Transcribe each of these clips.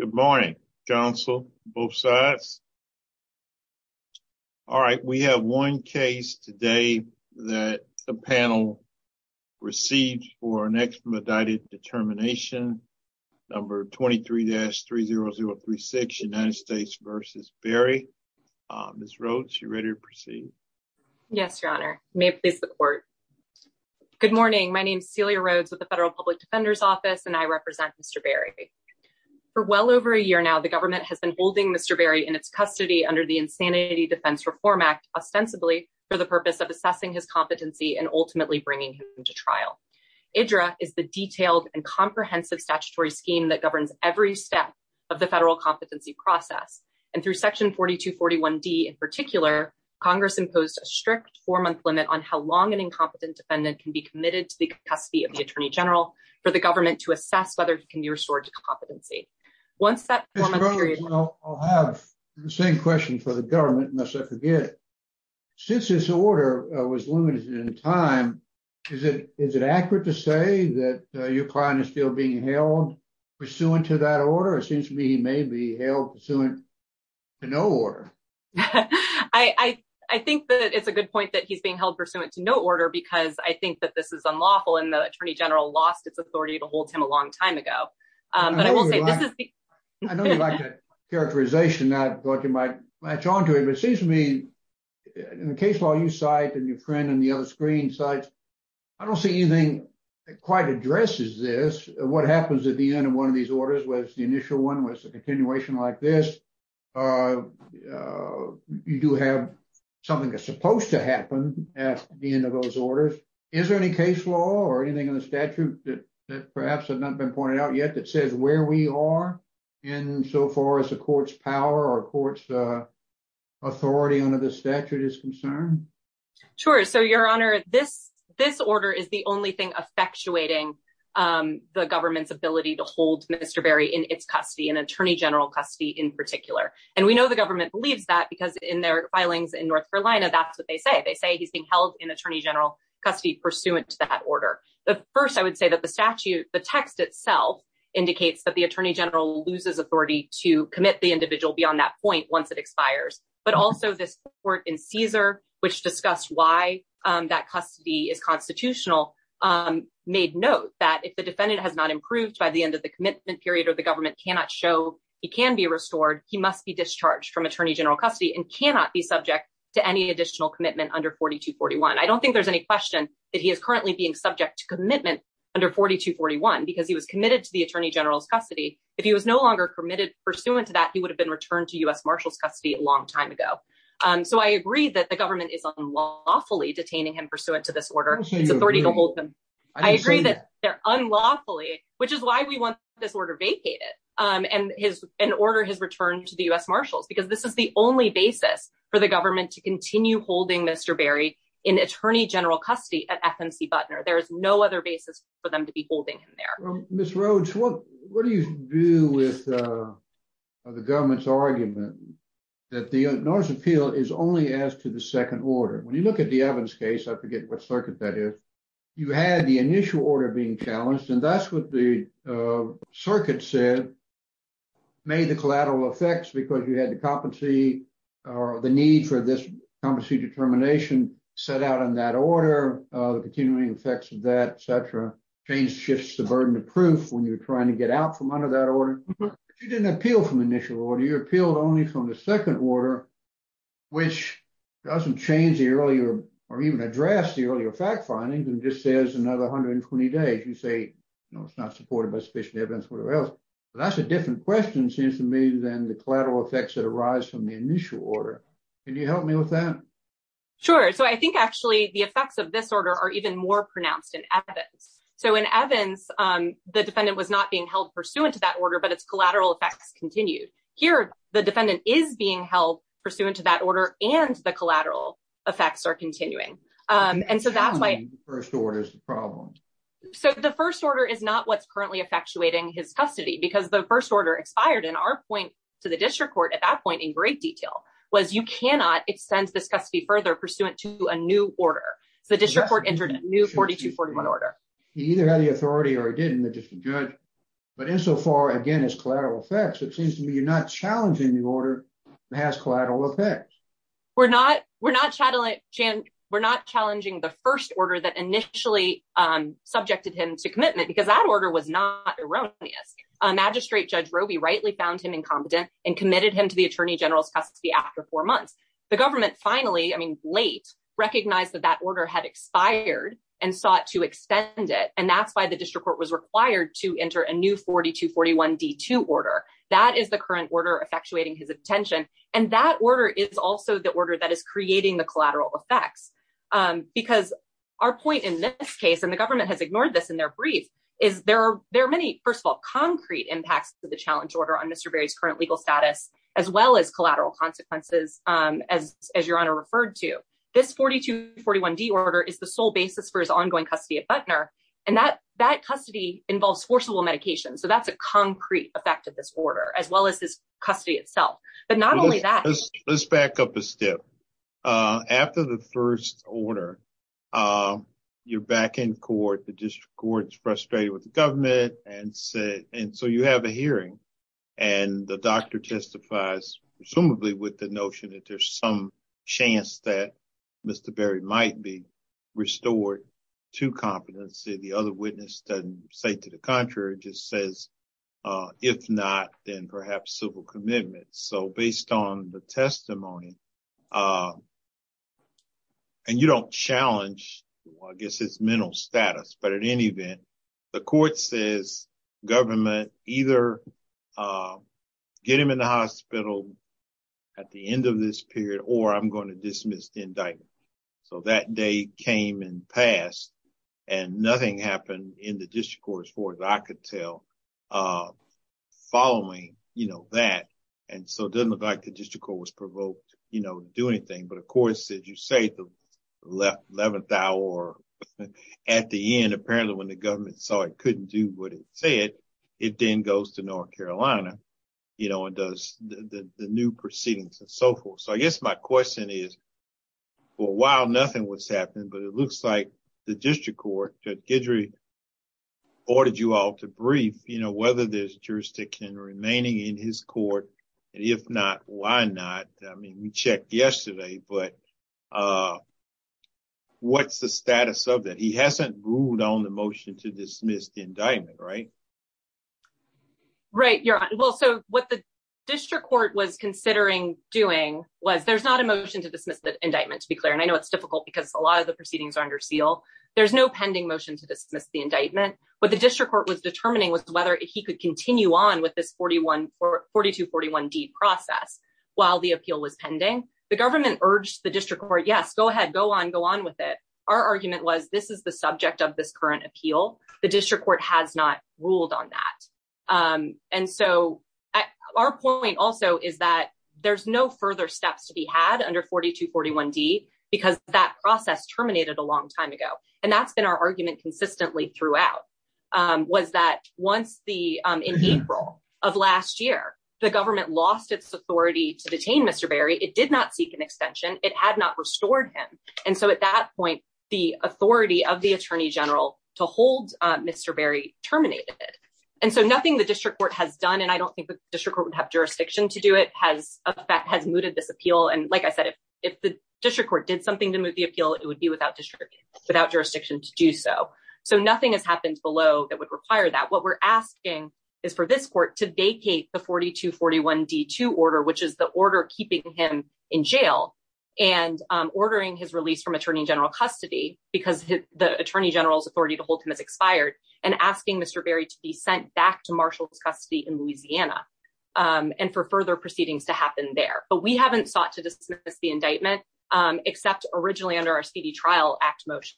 Good morning, counsel, both sides. All right, we have one case today that the panel received for an expedited determination number 23-30036, United States v. Berry. Ms. Rhodes, you're ready to proceed. Yes, Your Honor. May it please the court. Good morning. My name is Celia Rhodes with the Federal Public Defender's Office, and I represent Mr. Berry. For well over a year now, the government has been holding Mr. Berry in its custody under the Insanity Defense Reform Act, ostensibly for the purpose of assessing his competency and ultimately bringing him to trial. IDRA is the detailed and comprehensive statutory scheme that governs every step of the federal competency process. And through Section 4241D in particular, Congress imposed a strict four-month limit on how long an incompetent defendant can be committed to the custody of the Attorney General for the government to assess whether he can be restored to competency. Once that four-month period- Ms. Rhodes, I'll have the same question for the government, unless I forget it. Since this order was limited in time, is it accurate to say that your client is still being held pursuant to that order? It seems to me he may be held pursuant to no order. I think that it's a good point that he's being held pursuant to no order, because I think that this is unlawful, and the Attorney General lost its authority to hold him a long time ago. But I will say- I know you like that characterization, and I thought you might match on to it, but it seems to me, in the case law you cite, and your friend on the other screen cites, I don't see anything that quite addresses this. What happens at the end of one of these orders, whether it's the initial one, whether it's you do have something that's supposed to happen at the end of those orders, is there any case law or anything in the statute that perhaps has not been pointed out yet that says where we are in so far as the court's power or court's authority under the statute is concerned? Sure. So, Your Honor, this order is the only thing effectuating the government's ability to hold Mr. Berry in its custody, in Attorney General custody in particular. And we know the government believes that, because in their filings in North Carolina, that's what they say. They say he's being held in Attorney General custody pursuant to that order. But first, I would say that the statute, the text itself, indicates that the Attorney General loses authority to commit the individual beyond that point once it expires. But also this court in Caesar, which discussed why that custody is constitutional, made note that if the defendant has not improved by the end of the commitment period or the government cannot show he can be restored, he must be discharged from Attorney General custody and cannot be subject to any additional commitment under 4241. I don't think there's any question that he is currently being subject to commitment under 4241, because he was committed to the Attorney General's custody. If he was no longer committed pursuant to that, he would have been returned to U.S. Marshals custody a long time ago. So I agree that the government is unlawfully detaining him pursuant to this order. It's authority to hold them. I agree that they're unlawfully, which is why we want this order vacated and his order has returned to the U.S. Marshals, because this is the only basis for the government to continue holding Mr. Berry in Attorney General custody at FNC Buttner. There is no other basis for them to be holding him there. Ms. Rhodes, what do you do with the government's argument that the notice of appeal is only as to the second order? When you look at the Evans case, I forget what circuit that is, you had the initial order being challenged, and that's what the circuit said, made the collateral effects because you had the competency or the need for this competency determination set out in that order, the continuing effects of that, et cetera. Change shifts the burden of proof when you're trying to get out from under that order. You didn't appeal from initial order, you appealed only from the second order, which doesn't change the earlier or even address the earlier fact findings and just says another 120 days. You say it's not supported by sufficient evidence or else. But that's a different question, seems to me, than the collateral effects that arise from the initial order. Can you help me with that? Sure. So I think actually the effects of this order are even more pronounced in Evans. So in Evans, the defendant was not being held pursuant to that order, but its collateral effects continued. Here, the defendant is being held pursuant to that order and the collateral effects are continuing. And so that's why the first order is the problem. So the first order is not what's currently effectuating his custody because the first order expired in our point to the district court at that point in great detail was you cannot extend this custody further pursuant to a new order. So the district court entered a new 42-41 order. He either had the authority or he didn't, the district judge. But insofar, again, as collateral effects, it seems to me you're not challenging the order that has collateral effects. We're not. We're not challenging the first order that initially subjected him to commitment because that order was not erroneous. Magistrate Judge Roby rightly found him incompetent and committed him to the attorney general's custody after four months. The government finally, I mean, late recognized that that order had expired and sought to extend it. And that's why the district court was required to enter a new 42-41 D2 order. That is the current order effectuating his intention. And that order is also the order that is creating the collateral effects, because our point in this case, and the government has ignored this in their brief, is there are there are many, first of all, concrete impacts to the challenge order on Mr. Berry's current legal status, as well as collateral consequences, as your honor and that that custody involves forcible medication. So that's a concrete effect of this order, as well as this custody itself. But not only that, let's back up a step after the first order, you're back in court. The district court is frustrated with the government and so you have a hearing and the doctor testifies, presumably with the notion that there's some chance that Mr. Berry might be restored to competency. The other witness doesn't say to the contrary, just says, if not, then perhaps civil commitment. So based on the testimony. And you don't challenge, I guess, his mental status, but in any event, the court says government either get him in the hospital at the end of this period or I'm going to so that day came and passed and nothing happened in the district court, as far as I could tell, following that. And so it doesn't look like the district court was provoked to do anything. But of course, as you say, the 11th hour at the end, apparently when the government saw it couldn't do what it said, it then goes to North Carolina and does the new proceedings and so forth. So I guess my question is, for a while, nothing was happening, but it looks like the district court, Judge Guidry, ordered you all to brief, you know, whether there's jurisdiction remaining in his court. And if not, why not? I mean, we checked yesterday, but what's the status of that? He hasn't ruled on the motion to dismiss the indictment, right? Right. Well, so what the district court was considering doing was there's not a motion to dismiss the indictment, to be clear. And I know it's difficult because a lot of the proceedings are under seal. There's no pending motion to dismiss the indictment. But the district court was determining was whether he could continue on with this forty one or forty two, forty one D process while the appeal was pending. The government urged the district court. Yes, go ahead. Go on. Go on with it. Our argument was this is the subject of this current appeal. The district court has not ruled on that. And so our point also is that there's no further steps to be had under forty two, forty one D, because that process terminated a long time ago. And that's been our argument consistently throughout was that once the in April of last year, the government lost its authority to detain Mr. Berry. It did not seek an extension. It had not restored him. And so at that point, the authority of the attorney general to hold Mr. Berry terminated. And so nothing the district court has done. And I don't think the district would have jurisdiction to do it has has mooted this appeal. And like I said, if the district court did something to move the appeal, it would be without without jurisdiction to do so. So nothing has happened below that would require that. What we're asking is for this court to vacate the forty two, forty one D to order, which is the order keeping him in jail and ordering his release from attorney general custody because the attorney general's authority to hold him has expired and asking Mr. Berry to be sent back to Marshall's custody in Louisiana and for further proceedings to happen there. But we haven't sought to dismiss the indictment except originally under our speedy trial act motion.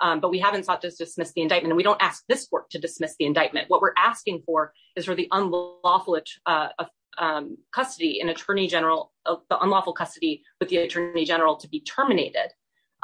But we haven't sought to dismiss the indictment. And we don't ask this court to dismiss the indictment. What we're asking for is for the unlawful custody, an attorney general, the unlawful custody with the attorney general to be terminated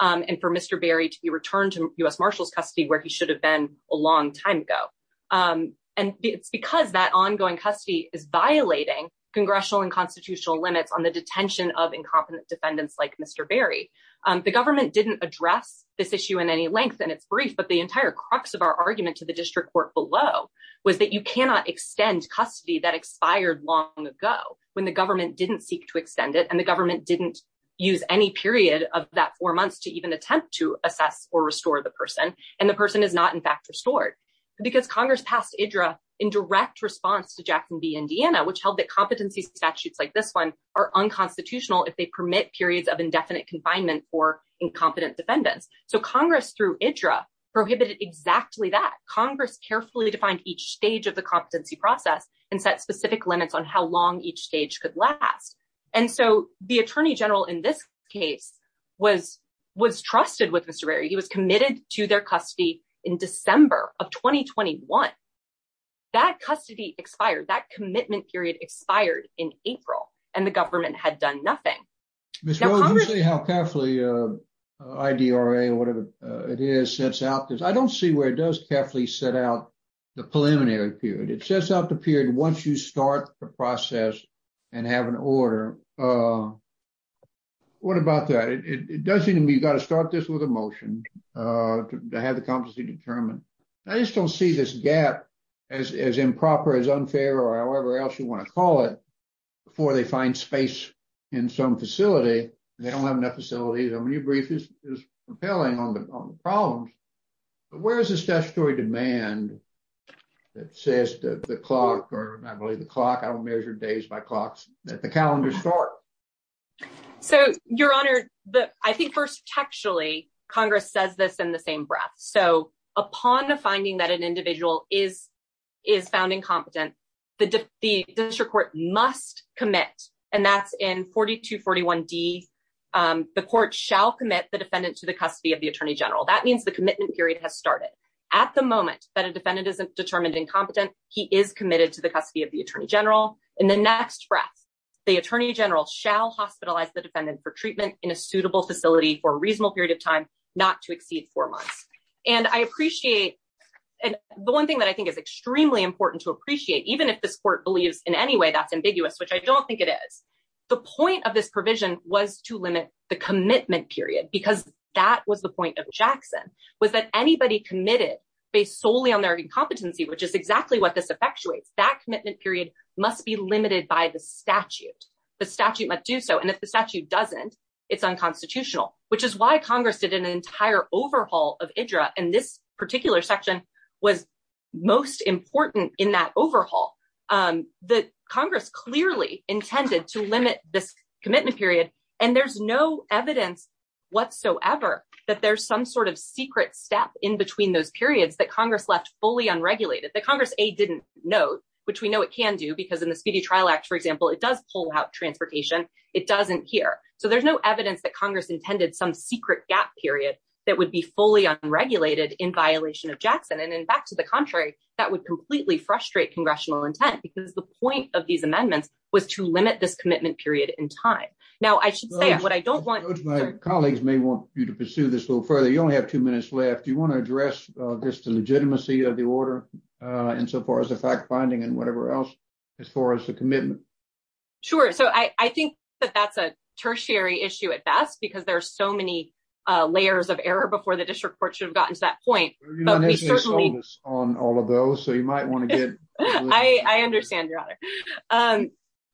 and for Mr. Berry to be returned to U.S. Marshall's custody where he should have been a long time ago. And it's because that ongoing custody is violating congressional and constitutional limits on the detention of incompetent defendants like Mr. Berry. The government didn't address this issue in any length and it's brief. But the entire crux of our argument to the district court below was that you cannot extend custody that expired long ago when the government didn't seek to extend it and the government didn't use any period of that four months to even attempt to assess or restore the person. And the person is not, in fact, restored because Congress passed IDRA in direct response to Jackson v. Indiana, which held that competency statutes like this one are unconstitutional if they permit periods of indefinite confinement for incompetent defendants. So Congress, through IDRA, prohibited exactly that. Congress carefully defined each stage of the competency process and set specific limits on how long each stage could last. And so the attorney general in this case was was trusted with Mr. Berry. He was committed to their custody in December of twenty twenty one. That custody expired, that commitment period expired in April and the government had done nothing. This is how carefully IDRA, whatever it is, sets out this, I don't see where it does carefully set out the preliminary period. It sets out the period once you start the process and have an order. What about that? It does seem to me you've got to start this with a motion to have the competency determined. I just don't see this gap as improper, as unfair or however else you want to call it, before they find space in some facility. They don't have enough facilities. I mean, your brief is compelling on the problems. But where is this statutory demand that says that the clock or I believe the clock, I don't measure days by clocks, that the calendar start? So, Your Honor, I think first textually, Congress says this in the same breath. So upon the finding that an individual is is found incompetent, the district court must commit. And that's in 4241D, the court shall commit the defendant to the custody of the attorney general. That means the commitment period has started at the moment that a defendant is determined incompetent. He is committed to the custody of the attorney general. In the next breath, the attorney general shall hospitalize the defendant for treatment in a suitable facility for a reasonable period of time, not to exceed four months. And I appreciate the one thing that I think is extremely important to me, and I'm sure the court believes in any way that's ambiguous, which I don't think it is. The point of this provision was to limit the commitment period, because that was the point of Jackson, was that anybody committed based solely on their incompetency, which is exactly what this effectuates, that commitment period must be limited by the statute. The statute must do so. And if the statute doesn't, it's unconstitutional, which is why Congress did an entire overhaul of IDRA. And this particular section was most important in that overhaul that Congress clearly intended to limit this commitment period. And there's no evidence whatsoever that there's some sort of secret step in between those periods that Congress left fully unregulated, that Congress, A, didn't know, which we know it can do because in the Speedy Trial Act, for example, it does pull out transportation. It doesn't here. So there's no evidence that Congress intended some secret gap period that would be fully unregulated in violation of Jackson. And in fact, to the contrary, that would completely frustrate congressional intent because the point of these amendments was to limit this commitment period in time. Now, I should say what I don't want my colleagues may want you to pursue this little further. You only have two minutes left. Do you want to address just the legitimacy of the order insofar as the fact finding and whatever else as far as the commitment? Sure. So I think that that's a tertiary issue at best because there are so many layers of error before the district court should have gotten to that point on all of those. So you might want to get. I understand your honor.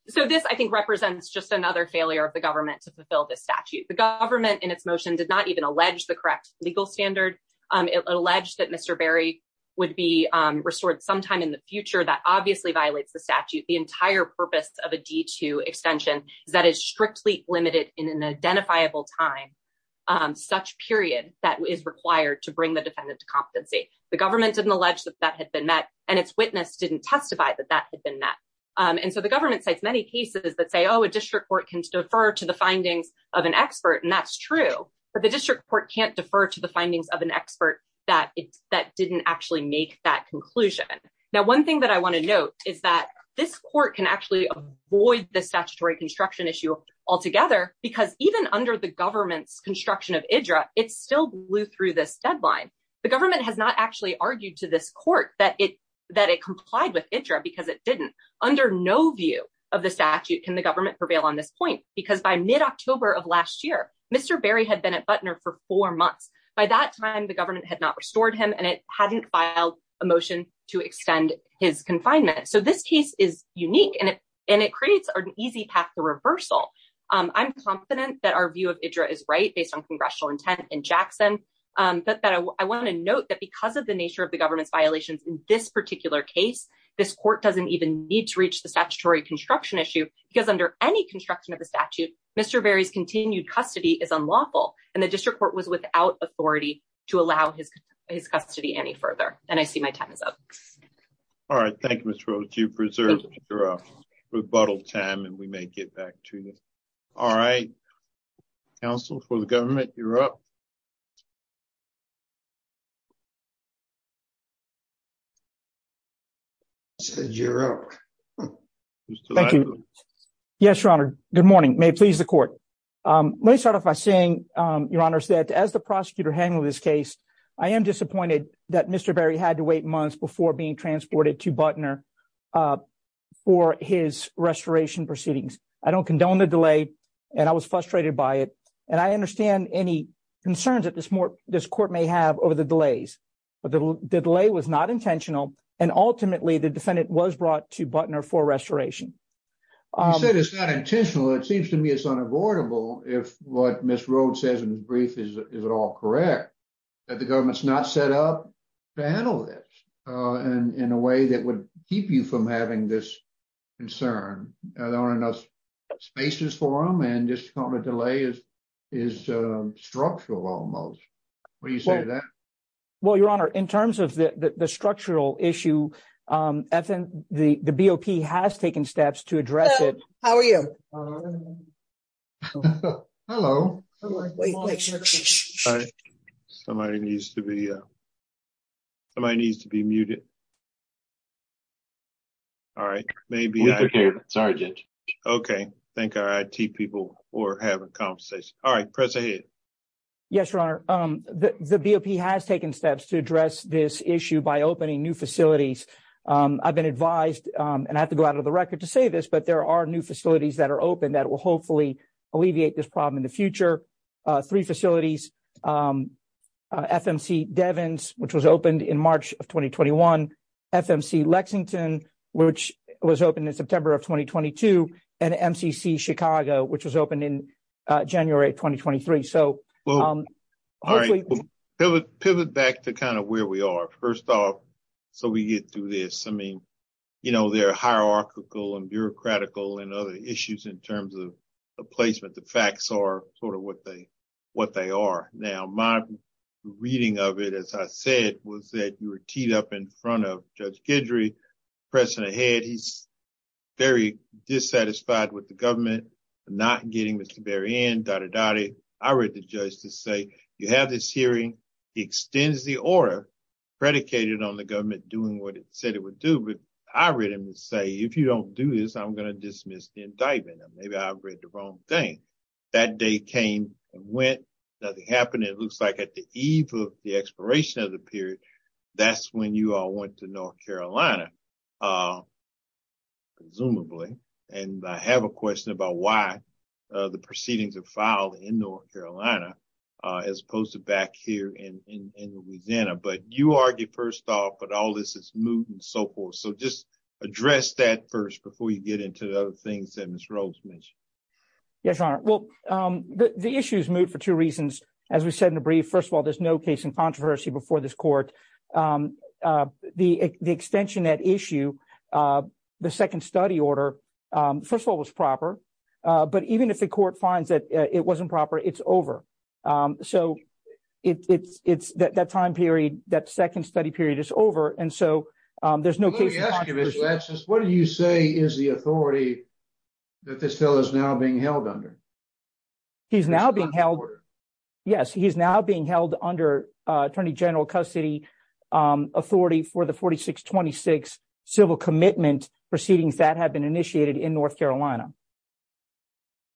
So this, I think, represents just another failure of the government to fulfill this statute. The government in its motion did not even allege the correct legal standard. It alleged that Mr. Berry would be restored sometime in the future. That obviously violates the statute. The entire purpose of a D2 extension is that is strictly limited in an identifiable time, such period that is required to bring the defendant to competency. The government didn't allege that that had been met and its witness didn't testify that that had been met. And so the government says many cases that say, oh, a district court can defer to the findings of an expert, and that's true, but the district court can't defer to the findings of an expert that that didn't actually make that conclusion. Now, one thing that I want to note is that this court can actually avoid the statutory construction issue altogether because even under the government's construction of IDRA, it still blew through this deadline. The government has not actually argued to this court that it that it complied with IDRA because it didn't. Under no view of the statute, can the government prevail on this point? Because by mid-October of last year, Mr. Berry had been at Butner for four months. By that time, the government had not restored him and it hadn't filed a motion to extend his confinement. So this case is unique and it and it creates an easy path to reversal. I'm confident that our view of IDRA is right based on congressional intent in Jackson, but that I want to note that because of the nature of the government's violations in this particular case, this court doesn't even need to reach the statutory construction issue because under any construction of the statute, Mr. Berry's continued custody is unlawful. And the district court was without authority to allow his his custody any further. And I see my time is up. All right. Thank you, Mr. All right. Counsel for the government, you're up. Said you're up. Thank you. Yes, Your Honor. Good morning. May it please the court. Let me start off by saying, Your Honor, that as the prosecutor handling this case, I am disappointed that Mr. Berry had to wait months before being transported to Butner for his restoration proceedings. I don't condone the delay and I was frustrated by it. And I understand any concerns that this court may have over the delays. But the delay was not intentional. And ultimately, the defendant was brought to Butner for restoration. You said it's not intentional. It seems to me it's unavoidable if what Ms. Rhodes says in the brief is at all correct, that the government's not set up to handle this in a way that would keep you from having this concern. There aren't enough spaces for him and this kind of delay is is structural almost. What do you say to that? Well, Your Honor, in terms of the structural issue, I think the BOP has taken steps to address it. How are you? Hello. Somebody needs to be. Somebody needs to be muted. All right, maybe I'm sorry, OK, thank you. People were having a conversation. All right, press ahead. Yes, Your Honor, the BOP has taken steps to address this issue by opening new facilities. I've been advised and I have to go out of the record to say this, but there are new facilities that are open that will hopefully alleviate this problem in the future. Three facilities, FMC Devens, which was opened in March of 2021, FMC Lexington, which was opened in September of twenty twenty two, and MCC Chicago, which was opened in January twenty twenty three. So pivot back to kind of where we are. First off, so we get through this. I mean, you know, there are hierarchical and bureaucratical and other issues in terms of placement. But the facts are sort of what they what they are. Now, my reading of it, as I said, was that you were teed up in front of Judge Guidry pressing ahead, he's very dissatisfied with the government not getting Mr. Berrien, dot dot dot. I read the judge to say you have this hearing extends the order predicated on the government doing what it said it would do. But I read him to say, if you don't do this, I'm going to dismiss the indictment. Maybe I read the wrong thing. That day came and went. Nothing happened. It looks like at the eve of the expiration of the period, that's when you all went to North Carolina. Presumably, and I have a question about why the proceedings are filed in North Carolina as opposed to back here in Louisiana. But you argue first off, but all this is moot and so forth. So just address that first before you get into the things that Mr. Oaks mentioned. Yes, your honor. Well, the issue is moot for two reasons. As we said in a brief, first of all, there's no case in controversy before this court. The extension that issue, the second study order, first of all, was proper. But even if the court finds that it wasn't proper, it's over. So it's that time period, that second study period is over. And so there's no question. What do you say is the authority that this bill is now being held under? He's now being held. Yes, he's now being held under attorney general custody authority for the forty six twenty six civil commitment proceedings that have been initiated in North Carolina.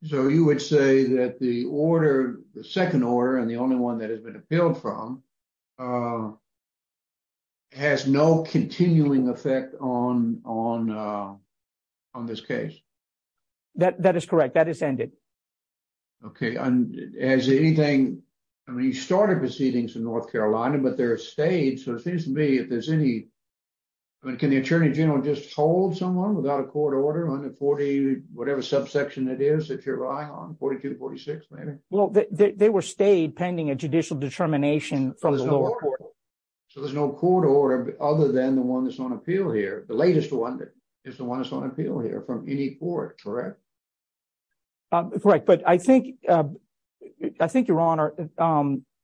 So you would say that the order, the second order and the only one that has been appealed from. Has no continuing effect on on on this case, that that is correct, that is ended. OK, and as anything, I mean, you started proceedings in North Carolina, but there are states, so it seems to me that there's any. Can the attorney general just hold someone without a court order on the 40, whatever subsection it is that you're relying on? Forty two. Forty six. Well, they were stayed pending a judicial determination from the court. So there's no court order other than the one that's on appeal here. The latest one is the one that's on appeal here from any court. Correct. Right. But I think I think your honor,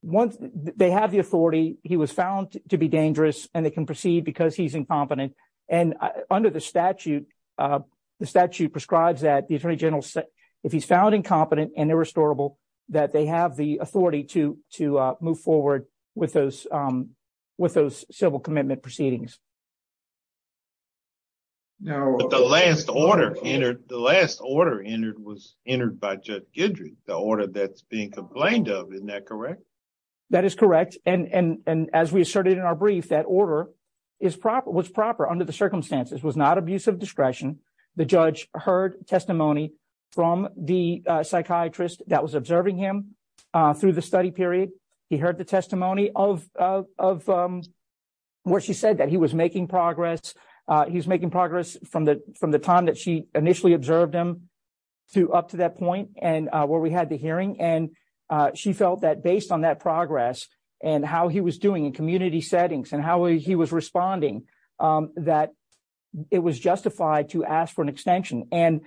once they have the authority, he was found to be dangerous and they can proceed because he's incompetent and under the statute, the statute prescribes that the attorney general, if he's found incompetent and irrestorable, that they have the authority to to move forward with those with those civil commitment proceedings. Now, the last order entered, the last order entered was entered by Judge Guidry, the order that's being complained of, isn't that correct? That is correct. And as we asserted in our brief, that order is proper, was proper under the circumstances, was not abuse of discretion. The judge heard testimony from the psychiatrist that was observing him through the study period. He heard the testimony of of where she said that he was making progress. He's making progress from the from the time that she initially observed him to up to that point and where we had the hearing. And she felt that based on that progress and how he was doing in community settings and how he was responding, that it was justified to ask for an extension and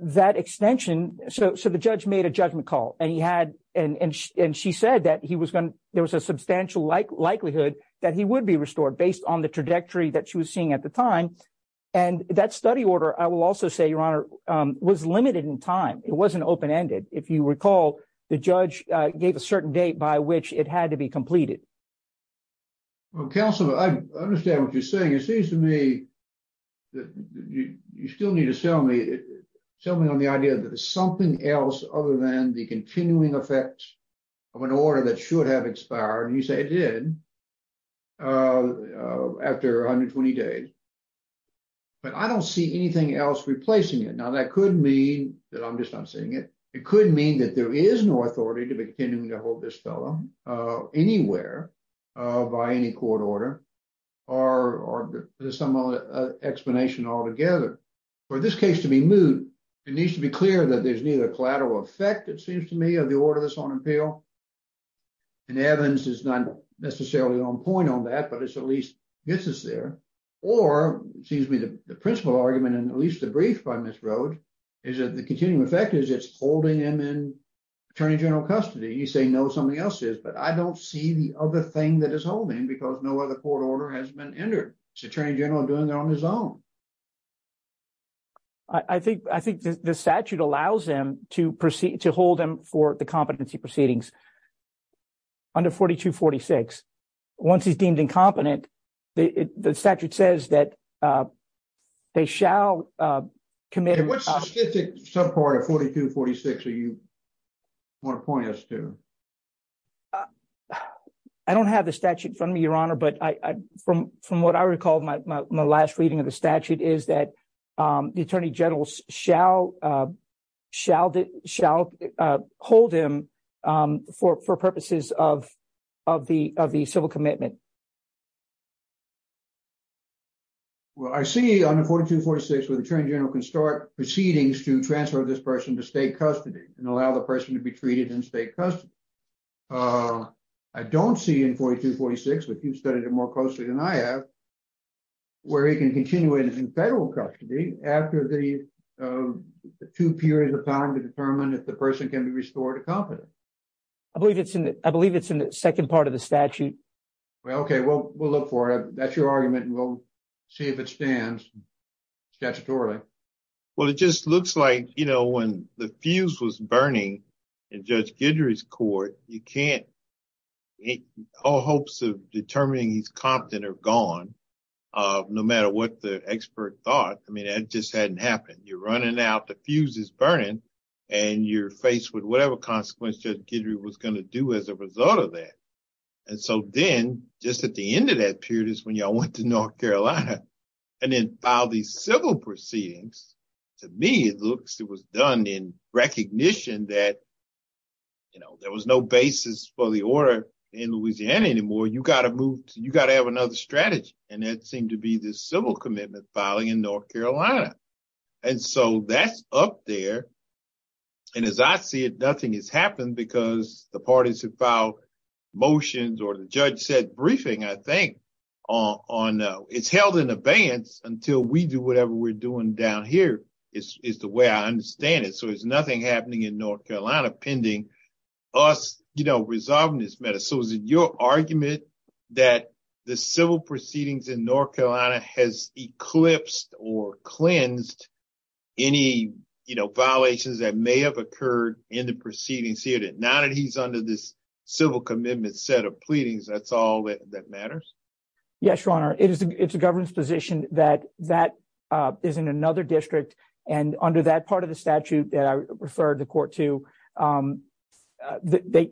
that extension. So so the judge made a judgment call and he had and she said that he was going to there was a substantial likelihood that he would be restored based on the trajectory that she was seeing at the time. And that study order, I will also say, Your Honor, was limited in time. It wasn't open ended. If you recall, the judge gave a certain date by which it had to be completed. Well, counsel, I understand what you're saying. It seems to me that you still need to sell me something on the idea that there's something else other than the continuing effect of an order that should have expired, you say it did. After 120 days. But I don't see anything else replacing it. Now, that could mean that I'm just not seeing it. It could mean that there is no authority to be continuing to hold this fellow anywhere by any court order or some other explanation altogether. For this case to be moved, it needs to be clear that there's neither collateral effect, it seems to me, of the order that's on appeal. And Evans is not necessarily on point on that, but it's at least gets us there. Or excuse me, the principal argument and at least the brief by Ms. Rode is that the continuing effect is it's holding him in attorney general custody. You say, no, something else is. But I don't see the other thing that is holding because no other court order has been entered. It's attorney general doing it on his own. I think I think the statute allows him to proceed to hold him for the competency proceedings. Under forty to forty six, once he's deemed incompetent, the statute says that they shall commit to some part of forty to forty six. So you want to point us to. I don't have the statute from your honor, but from from what I recall, my last reading of the statute is that the attorney general shall shall shall hold him for purposes of of the of the civil commitment. Well, I see on the forty to forty six with attorney general can start proceedings to transfer this person to state custody and allow the person to be treated in state custody, I don't see in forty to forty six, but you've studied it more closely than I have. Where he can continue it is in federal custody after the two periods of time to determine if the person can be restored to competence, I believe it's in I believe it's in the second part of the statute. Well, OK, well, we'll look for it. That's your argument. We'll see if it stands statutorily. Well, it just looks like, you know, when the fuse was burning in Judge Guidry's court, you can't make all hopes of determining he's competent or gone, no matter what the expert thought. I mean, it just hadn't happened. You're running out the fuse is burning and you're faced with whatever consequences Guidry was going to do as a result of that. And so then just at the end of that period is when you went to North Carolina and then file these civil proceedings. To me, it looks it was done in recognition that. You know, there was no basis for the order in Louisiana anymore. You got to move, you got to have another strategy. And it seemed to be this civil commitment filing in North Carolina. And so that's up there. And as I see it, nothing has happened because the parties who filed motions or the judge said briefing, I think on it's held in abeyance until we do whatever we're doing down here is the way I understand it. So there's nothing happening in North Carolina pending us resolving this matter. So is it your argument that the civil proceedings in North Carolina has eclipsed or cleansed any violations that may have occurred in the proceedings here? Not that he's under this civil commitment set of pleadings, that's all that matters. Yes, your honor. It is it's a government's position that that is in another district. And under that part of the statute that I referred the court to,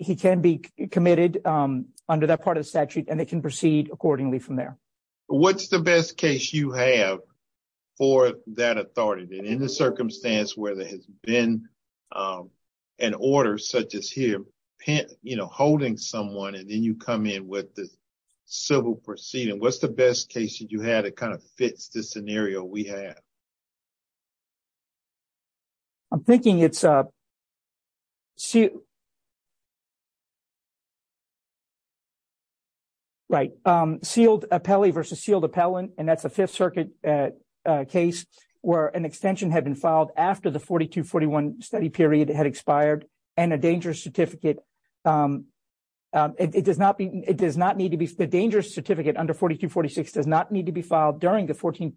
he can be committed under that part of the statute and they can proceed accordingly from there. What's the best case you have for that authority in the circumstance where there has been an order such as here, you know, holding someone and then you come in with the civil proceeding, what's the best case that you had to kind of fix this scenario? We have. I'm thinking it's up. See. Right, sealed, a pally versus sealed repellent, and that's a Fifth Circuit case where an extension had been filed after the forty to forty one study period had expired and a dangerous certificate. It does not be it does not need to be the dangerous certificate under forty to forty six does not need to be filed during the fourteen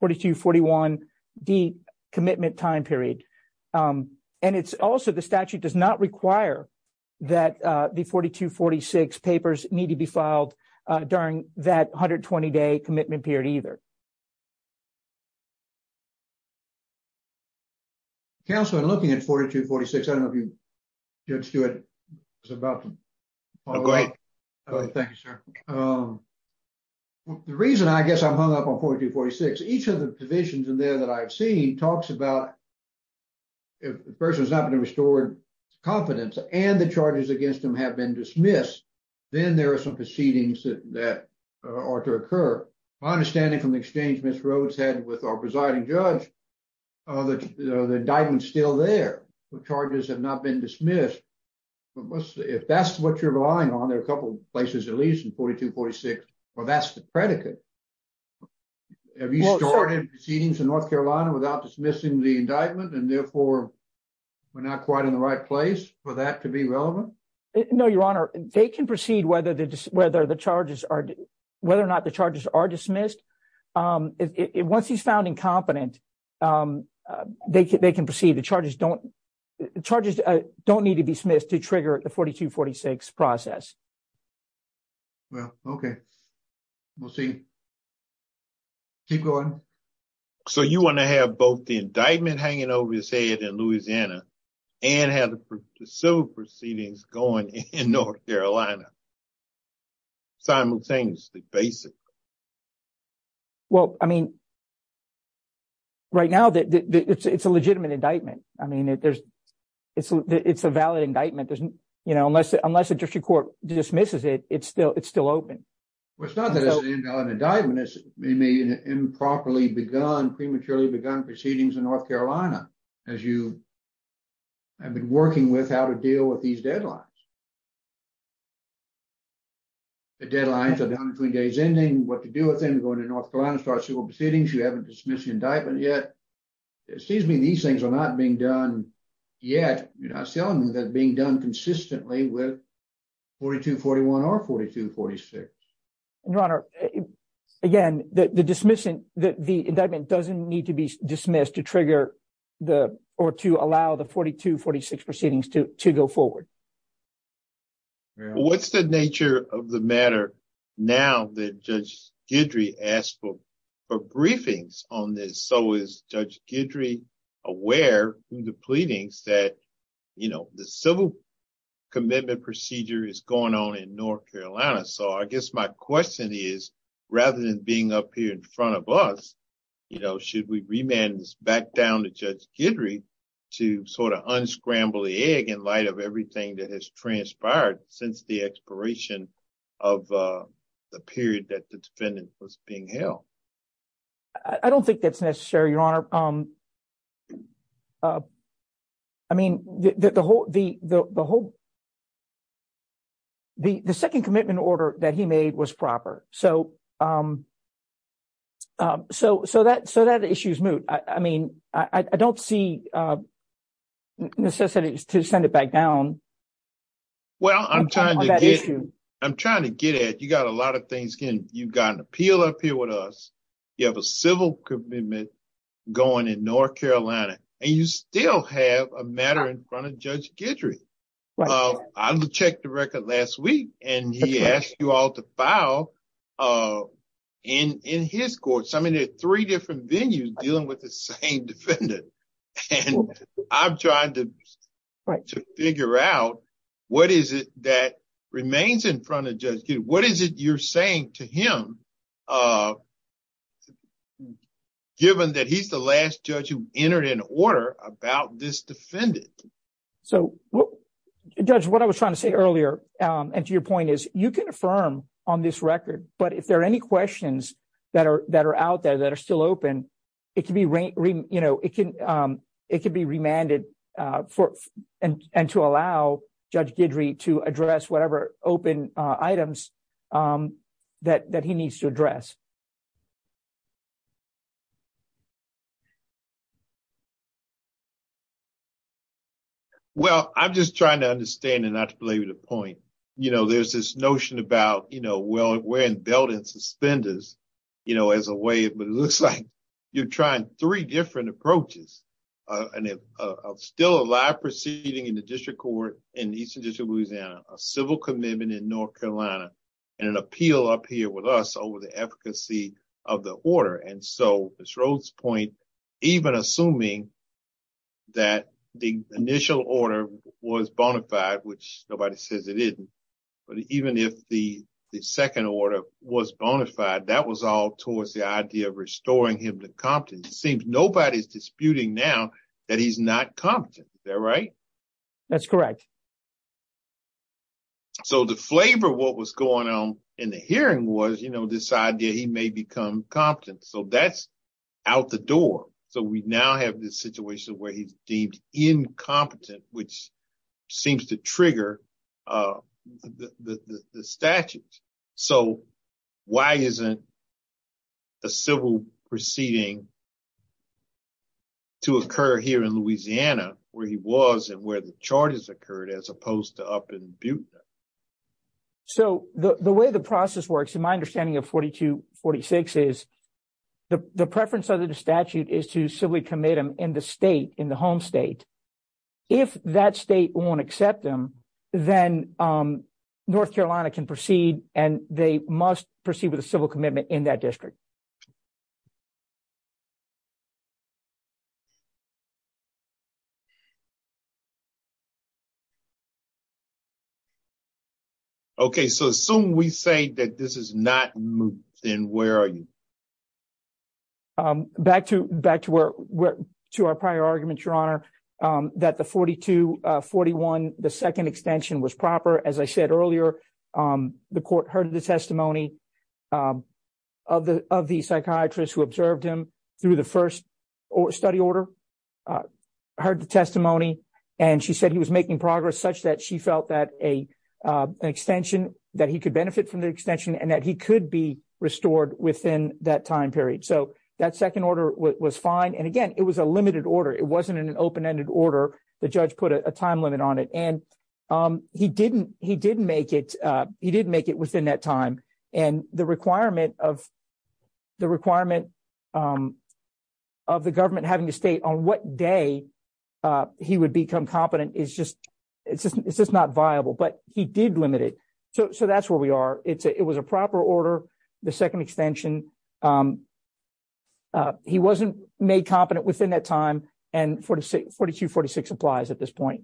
forty to forty one D commitment time period. And it's also the statute does not require that the forty to forty six papers need to be filed during that one hundred twenty day commitment period either. Counselor, looking at forty to forty six, I don't know if you just do it. It's about the right. Thank you, sir. The reason I guess I'm hung up on forty to forty six, each of the divisions in there that I've seen talks about. If the person is not going to restore confidence and the charges against them have been dismissed, then there are some proceedings that are to occur, my understanding from the exchange, Miss Rhodes had with our presiding judge of the indictment still there. The charges have not been dismissed. But if that's what you're relying on, there are a couple of places, at least in forty to forty six. Well, that's the predicate. Have you started proceedings in North Carolina without dismissing the indictment and therefore we're not quite in the right place for that to be relevant? No, your honor. They can proceed whether the whether the charges are whether or not the charges are dismissed once he's found incompetent, they can proceed. The charges don't the charges don't need to be dismissed to trigger the forty to forty six process. Well, OK, we'll see. Keep going. So you want to have both the indictment hanging over his head in Louisiana and have the civil proceedings going in North Carolina? Simultaneously, basic. Well, I mean. Right now, it's a legitimate indictment, I mean, there's it's it's a valid indictment, doesn't you know, unless unless the district court dismisses it, it's still it's still open. Well, it's not that it's an indictment, it's maybe an improperly begun, prematurely begun proceedings in North Carolina, as you. I've been working with how to deal with these deadlines. The deadlines are down between days, ending what to do with them, going to North Carolina, start civil proceedings, you haven't dismissed the indictment yet, it seems to me these things are not being done yet, you know, selling that being done consistently with forty two, forty one or forty two, forty six. Your Honor, again, the dismissal that the indictment doesn't need to be dismissed to trigger the or to allow the forty two, forty six proceedings to to go forward. What's the nature of the matter now that Judge Guidry asked for for briefings on so is Judge Guidry aware of the pleadings that, you know, the civil commitment procedure is going on in North Carolina. So I guess my question is, rather than being up here in front of us, you know, should we remand this back down to Judge Guidry to sort of unscramble the egg in light of everything that has transpired since the expiration of the period that the defendant was being held? I don't think that's necessary, Your Honor. I mean, the whole the the whole. The second commitment order that he made was proper, so. So so that so that issue is moot. I mean, I don't see necessities to send it back down. Well, I'm trying to get I'm trying to get it. You got a lot of things. You've got an appeal up here with us. You have a civil commitment going in North Carolina. And you still have a matter in front of Judge Guidry. I checked the record last week and he asked you all to file in his court. I mean, there are three different venues dealing with the same defendant. And I'm trying to figure out what is it that remains in front of Judge Guidry. What is it you're saying to him? Given that he's the last judge who entered in order about this defendant. So, Judge, what I was trying to say earlier and to your point is you can affirm on this record. But if there are any questions that are that are out there that are still open, it can be, you know, it can it can be remanded for and to allow Judge Guidry to address whatever open items that that he needs to address. Well, I'm just trying to understand and not to belabor the point, you know, there's this notion about, you know, well, we're in belt and suspenders, you know, as a way it looks like you're trying three different approaches and still a live proceeding in the district court in the Eastern District of Louisiana, a civil commitment in North Carolina and an appeal up here with us over the efficacy of the order. And so this Rhodes point, even assuming. That the initial order was bona fide, which nobody says it is. But even if the the second order was bona fide, that was all towards the idea of restoring him to competence. It seems nobody's disputing now that he's not competent. They're right. That's correct. So the flavor of what was going on in the hearing was, you know, this idea he may become competent, so that's out the door. So we now have this situation where he's deemed incompetent, which seems to trigger the statute. So why isn't. The civil proceeding. To occur here in Louisiana, where he was and where the charges occurred, as opposed to up in Butte. So the way the process works, in my understanding of forty to forty six is the preference of the statute is to civilly commit him in the state, in the home state, if that state won't accept them, then North Carolina can proceed and they must proceed with a civil commitment in that district. OK, so as soon we say that this is not in, where are you? Back to back to where we're to our prior argument, your honor, that the forty to forty one, the second extension was proper. As I said earlier, the court heard the testimony of the of the psychiatrist who observed him through the first study order, heard the testimony and she said he was making progress such that she felt that a extension that he could benefit from the extension and that he could be restored within that time period. So that second order was fine. And again, it was a limited order. It wasn't an open ended order. The judge put a time limit on it and he didn't he didn't make it. He didn't make it within that time. And the requirement of the requirement of the government having to state on what day he would become competent is just it's just it's just not viable, but he did limit it. So that's where we are. It was a proper order. The second extension. The second extension, he wasn't made competent within that time and 46, 42, 46 applies at this point.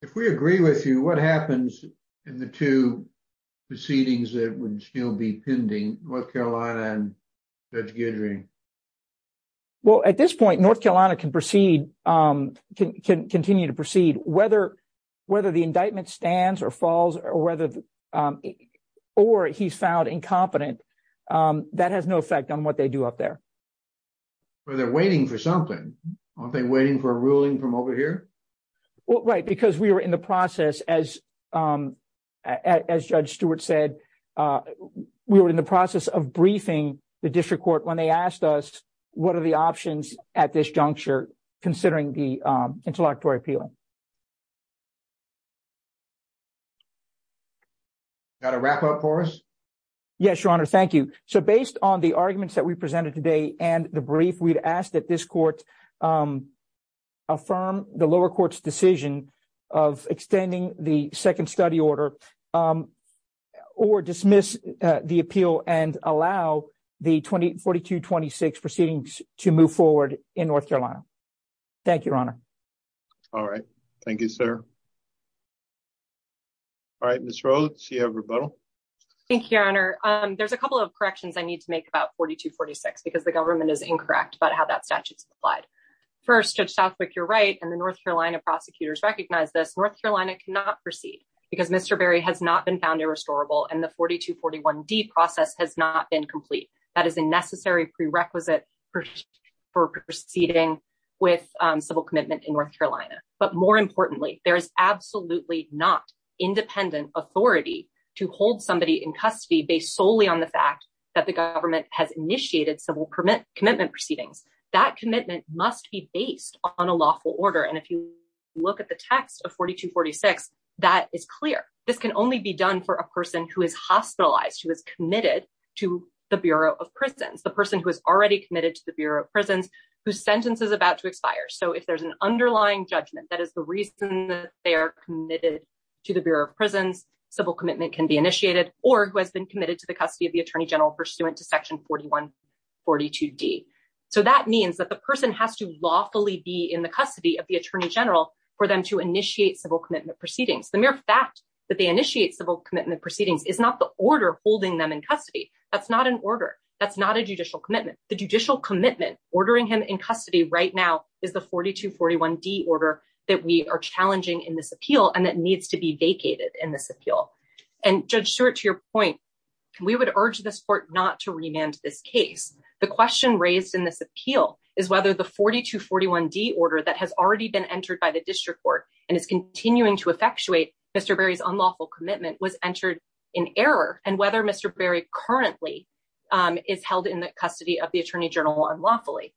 If we agree with you, what happens in the two proceedings that would still be pending, North Carolina and Judge Guidry? Well, at this point, North Carolina can proceed, can continue to proceed, whether whether the indictment stands or falls or whether or he's found incompetent. That has no effect on what they do up there. Well, they're waiting for something. Aren't they waiting for a ruling from over here? Well, right, because we were in the process, as as Judge Stewart said, we were in the process of briefing the district court when they asked us, what are the options at this juncture considering the intellectual appeal? Got to wrap up for us. Yes, your honor. Thank you. So based on the arguments that we presented today and the brief, we'd ask that this court affirm the lower court's decision of extending the second study order or dismiss the appeal and allow the 20, 42, 26 proceedings to move forward in North Carolina. Thank you, your honor. All right. Thank you, sir. All right. Miss Rhodes, you have rebuttal. Thank you, your honor. There's a couple of corrections I need to make about 42, 46 because the government is incorrect about how that statute is applied. First, Judge Southwick, you're right. And the North Carolina prosecutors recognize this. North Carolina cannot proceed because Mr. Berry has not been found irrestorable and the 42, 41 D process has not been complete. That is a necessary prerequisite for proceeding with civil commitment in North Carolina. But more importantly, there is absolutely not independent authority to hold somebody in custody based solely on the fact that the government has initiated civil permit commitment proceedings. That commitment must be based on a lawful order, and if you look at the text of 42, 46, that is clear. This can only be done for a person who is hospitalized, who is committed to the Bureau of Prisons, the person who is already committed to the Bureau of Prisons, whose sentence is about to expire. So if there's an underlying judgment, that is the reason that they are committed to the Bureau of Prisons. Civil commitment can be initiated or who has been committed to the custody of the attorney general pursuant to Section 41, 42 D. So that means that the person has to lawfully be in the custody of the attorney general for them to initiate civil commitment proceedings. The mere fact that they initiate civil commitment proceedings is not the order holding them in custody. That's not an order. That's not a judicial commitment. The judicial commitment ordering him in custody right now is the 42, 41 D order that we are challenging in this appeal and that needs to be vacated in this appeal. And Judge Stewart, to your point, we would urge this court not to remand this case. The question raised in this appeal is whether the 42, 41 D order that has already been entered by the district court and is continuing to effectuate Mr. Berry's unlawful commitment was entered in error and whether Mr. Berry currently is held in the custody of the attorney general unlawfully.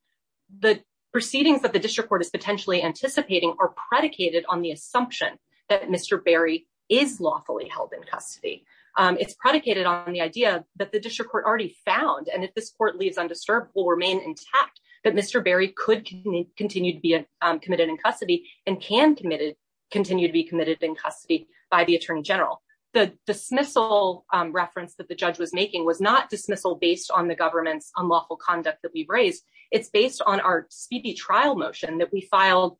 The proceedings that the district court is potentially anticipating are predicated on the assumption that Mr. Berry is lawfully held in custody. It's predicated on the idea that the district court already found. And if this court leaves undisturbed, will remain intact that Mr. Berry could continue to be committed in custody and can continue to be committed in custody by the attorney general. The dismissal reference that the judge was making was not dismissal based on the government's unlawful conduct that we raised, it's based on our speedy trial motion that we filed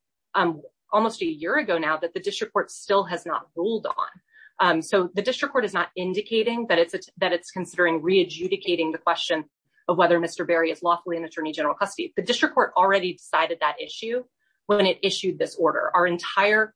almost a year ago now that the district court still has not ruled on. So the district court is not indicating that it's that it's considering re adjudicating the question of whether Mr. Berry is lawfully in attorney general custody. The district court already decided that issue when it issued this order. Our entire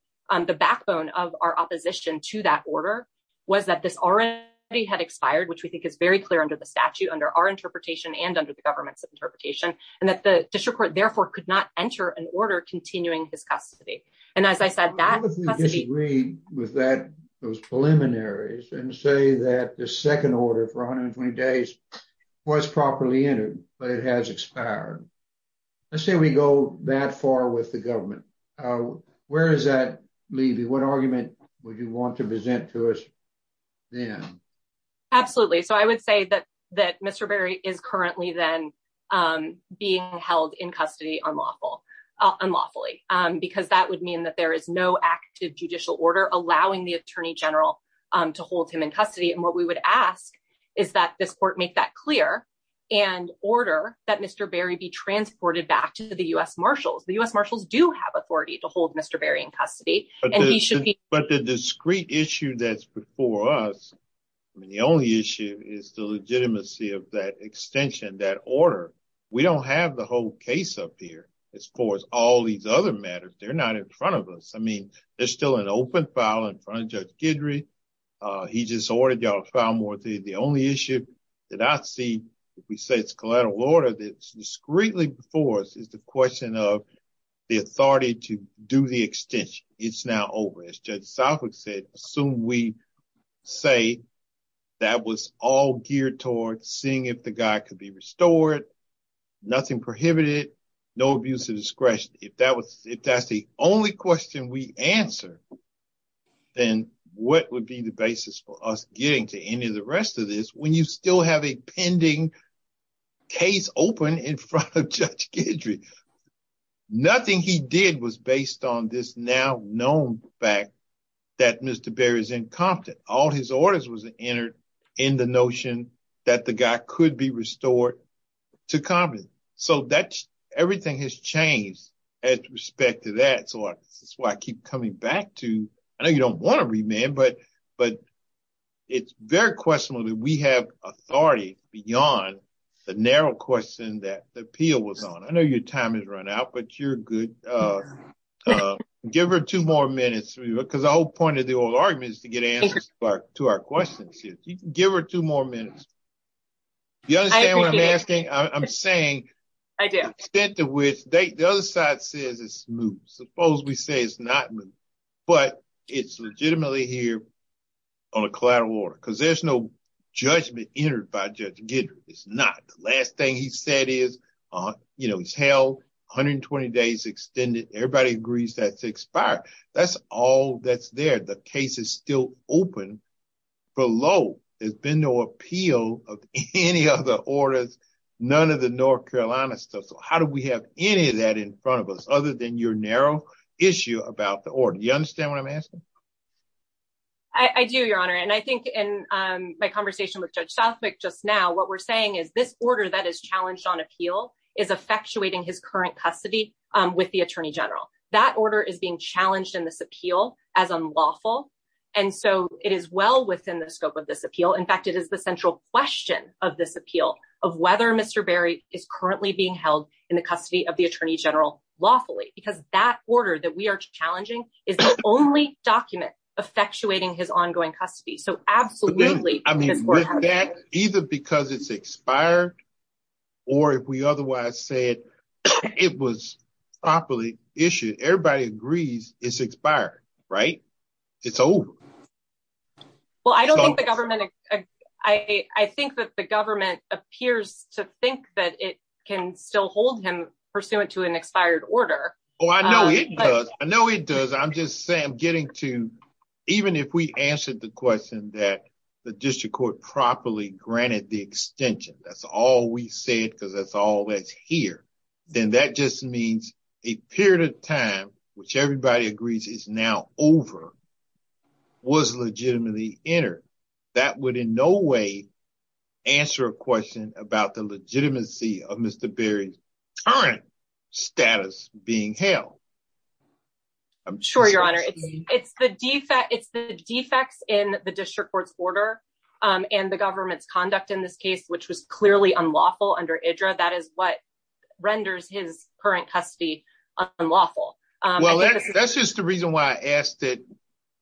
the backbone of our opposition to that order was that this already had expired, which we think is very clear under the statute, under our interpretation and under the government's interpretation, and that the district court therefore could not enter an order continuing his custody. And as I said, that was agreed with that. Those preliminaries and say that the second order for 120 days was properly entered, but it has expired. Let's say we go that far with the government. Where does that leave you? What argument would you want to present to us then? Absolutely. So I would say that that Mr. Berry is currently then being held in custody on lawful unlawfully, because that would mean that there is no active judicial order allowing the attorney general to hold him in custody. And what we would ask is that this court make that clear and order that Mr. Berry be transported back to the U.S. marshals. The U.S. marshals do have authority to hold Mr. Berry in custody, and he should be. But the discreet issue that's before us, I mean, the only issue is the legitimacy of that extension, that order. We don't have the whole case up here as far as all these other matters. They're not in front of us. I mean, there's still an open file in front of Judge Guidry. He just ordered y'all to file more. The only issue that I see, if we say it's collateral order that's discreetly before us, is the question of the authority to do the extension. It's now over. As Judge Southwick said, assume we say that was all geared towards seeing if the guy could be restored, nothing prohibited, no abuse of discretion. If that's the only question we answer, then what would be the basis for us getting to any of the rest of this when you still have a pending case open in front of Judge Guidry? Nothing he did was based on this now known fact that Mr. Berry is incompetent. All his orders was entered in the notion that the guy could be restored to competency. So everything has changed with respect to that. That's why I keep coming back to, I know you don't want to remand, but it's very questionable that we have authority beyond the narrow question that the appeal was on. I know your time has run out, but you're good. Give her two more minutes, because the whole point of the oral argument is to get answers to our questions. Give her two more minutes. You understand what I'm asking? I'm saying the extent to which the other side says it's smooth. Suppose we say it's not. But it's legitimately here on a collateral order, because there's no judgment entered by Judge Guidry. It's not. The last thing he said is, you know, he's held 120 days extended. Everybody agrees that's expired. That's all that's there. The case is still open below. There's been no appeal of any other orders, none of the North Carolina stuff. How do we have any of that in front of us other than your narrow issue about the order? You understand what I'm asking? I do, Your Honor, and I think in my conversation with Judge Southwick just now, what we're saying is this order that is challenged on appeal is effectuating his current custody with the attorney general. That order is being challenged in this appeal as unlawful. And so it is well within the scope of this appeal. In fact, it is the central question of this appeal of whether Mr. Southwick is being held in the custody of the attorney general lawfully, because that order that we are challenging is the only document effectuating his ongoing custody. So absolutely. I mean, that either because it's expired or if we otherwise said it was properly issued, everybody agrees it's expired. Right. It's over. Well, I don't think the government I think that the government appears to think that it can still hold him pursuant to an expired order. Oh, I know it does. I know it does. I'm just saying I'm getting to even if we answered the question that the district court properly granted the extension, that's all we said, because that's all that's here. Then that just means a period of time, which everybody agrees is now over, was legitimately entered. That would in no way answer a question about the legitimacy of Mr. Berry's current status being held. I'm sure your honor, it's the defect, it's the defects in the district court's order and the government's conduct in this case, which was clearly unlawful under Idra. That is what renders his current custody unlawful. Well, that's just the reason why I asked that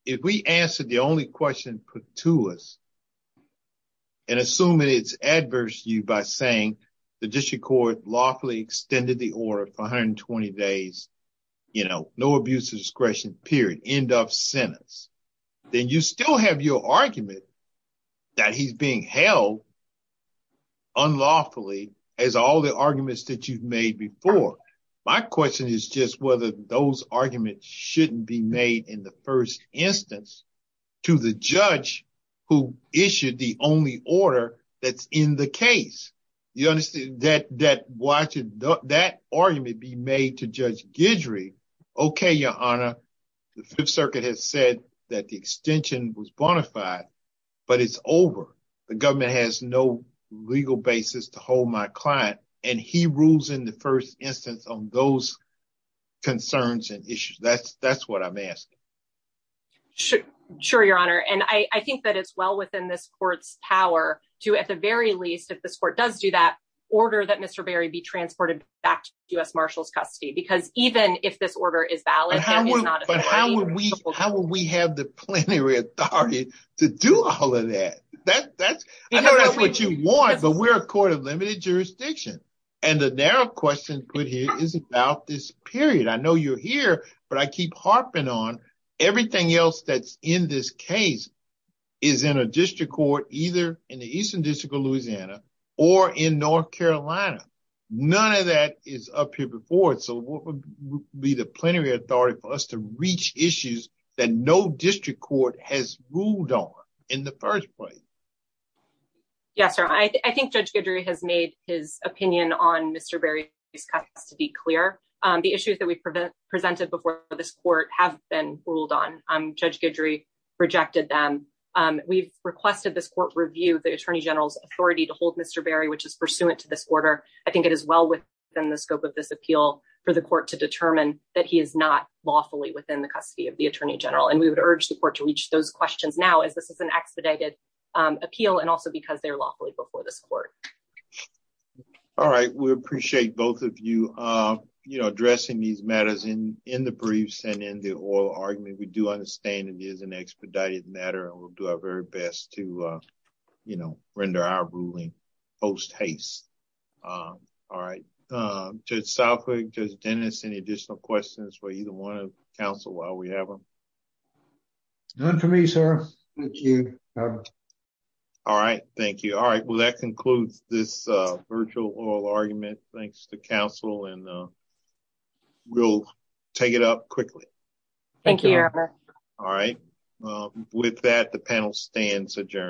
if we answer the only question put to us. And assuming it's adverse you by saying the district court lawfully extended the order for 120 days, you know, no abuse of discretion, period, end of sentence, then you still have your argument that he's being held. Unlawfully, as all the arguments that you've made before, my question is just whether those arguments shouldn't be made in the first instance to the judge who issued the only order that's in the case. You understand that? Why should that argument be made to Judge Guidry? OK, your honor, the Fifth Circuit has said that the extension was bonafide, but it's over. The government has no legal basis to hold my client and he rules in the first instance on those concerns and issues. That's that's what I'm asking. Sure. Sure, your honor. And I think that it's well within this court's power to at the very least, if this court does do that, order that Mr. Berry be transported back to U.S. Marshals custody. Because even if this order is valid, how would we how would we have the plenary authority to do all of that? That's what you want. But we're a court of limited jurisdiction, and the narrow question put here is about this period. I know you're here, but I keep harping on everything else that's in this case is in a district court, either in the Eastern District of Louisiana or in North Carolina, none of that is up here before. So what would be the plenary authority for us to reach issues that no district court has ruled on in the first place? Yes, sir. I think Judge Guidry has made his opinion on Mr. Berry's custody clear. The issues that we presented before this court have been ruled on. Judge Guidry rejected them. We've requested this court review the attorney general's authority to hold Mr. Berry, which is pursuant to this order. I think it is well within the scope of this appeal for the court to determine that he is not lawfully within the custody of the attorney general. And we would urge the court to reach those questions now as this is an expedited appeal. And also because they're lawfully before this court. All right, we appreciate both of you addressing these matters in the briefs and in the oral argument. We do understand it is an expedited matter and we'll do our very best to render our ruling post haste. All right, Judge Southwick, Judge Dennis, any additional questions for either one of the counsel while we have them? None for me, sir. Thank you. All right. Thank you. All right. Well, that concludes this virtual oral argument. Thanks to counsel and we'll take it up quickly. Thank you. All right. With that, the panel stands adjourned.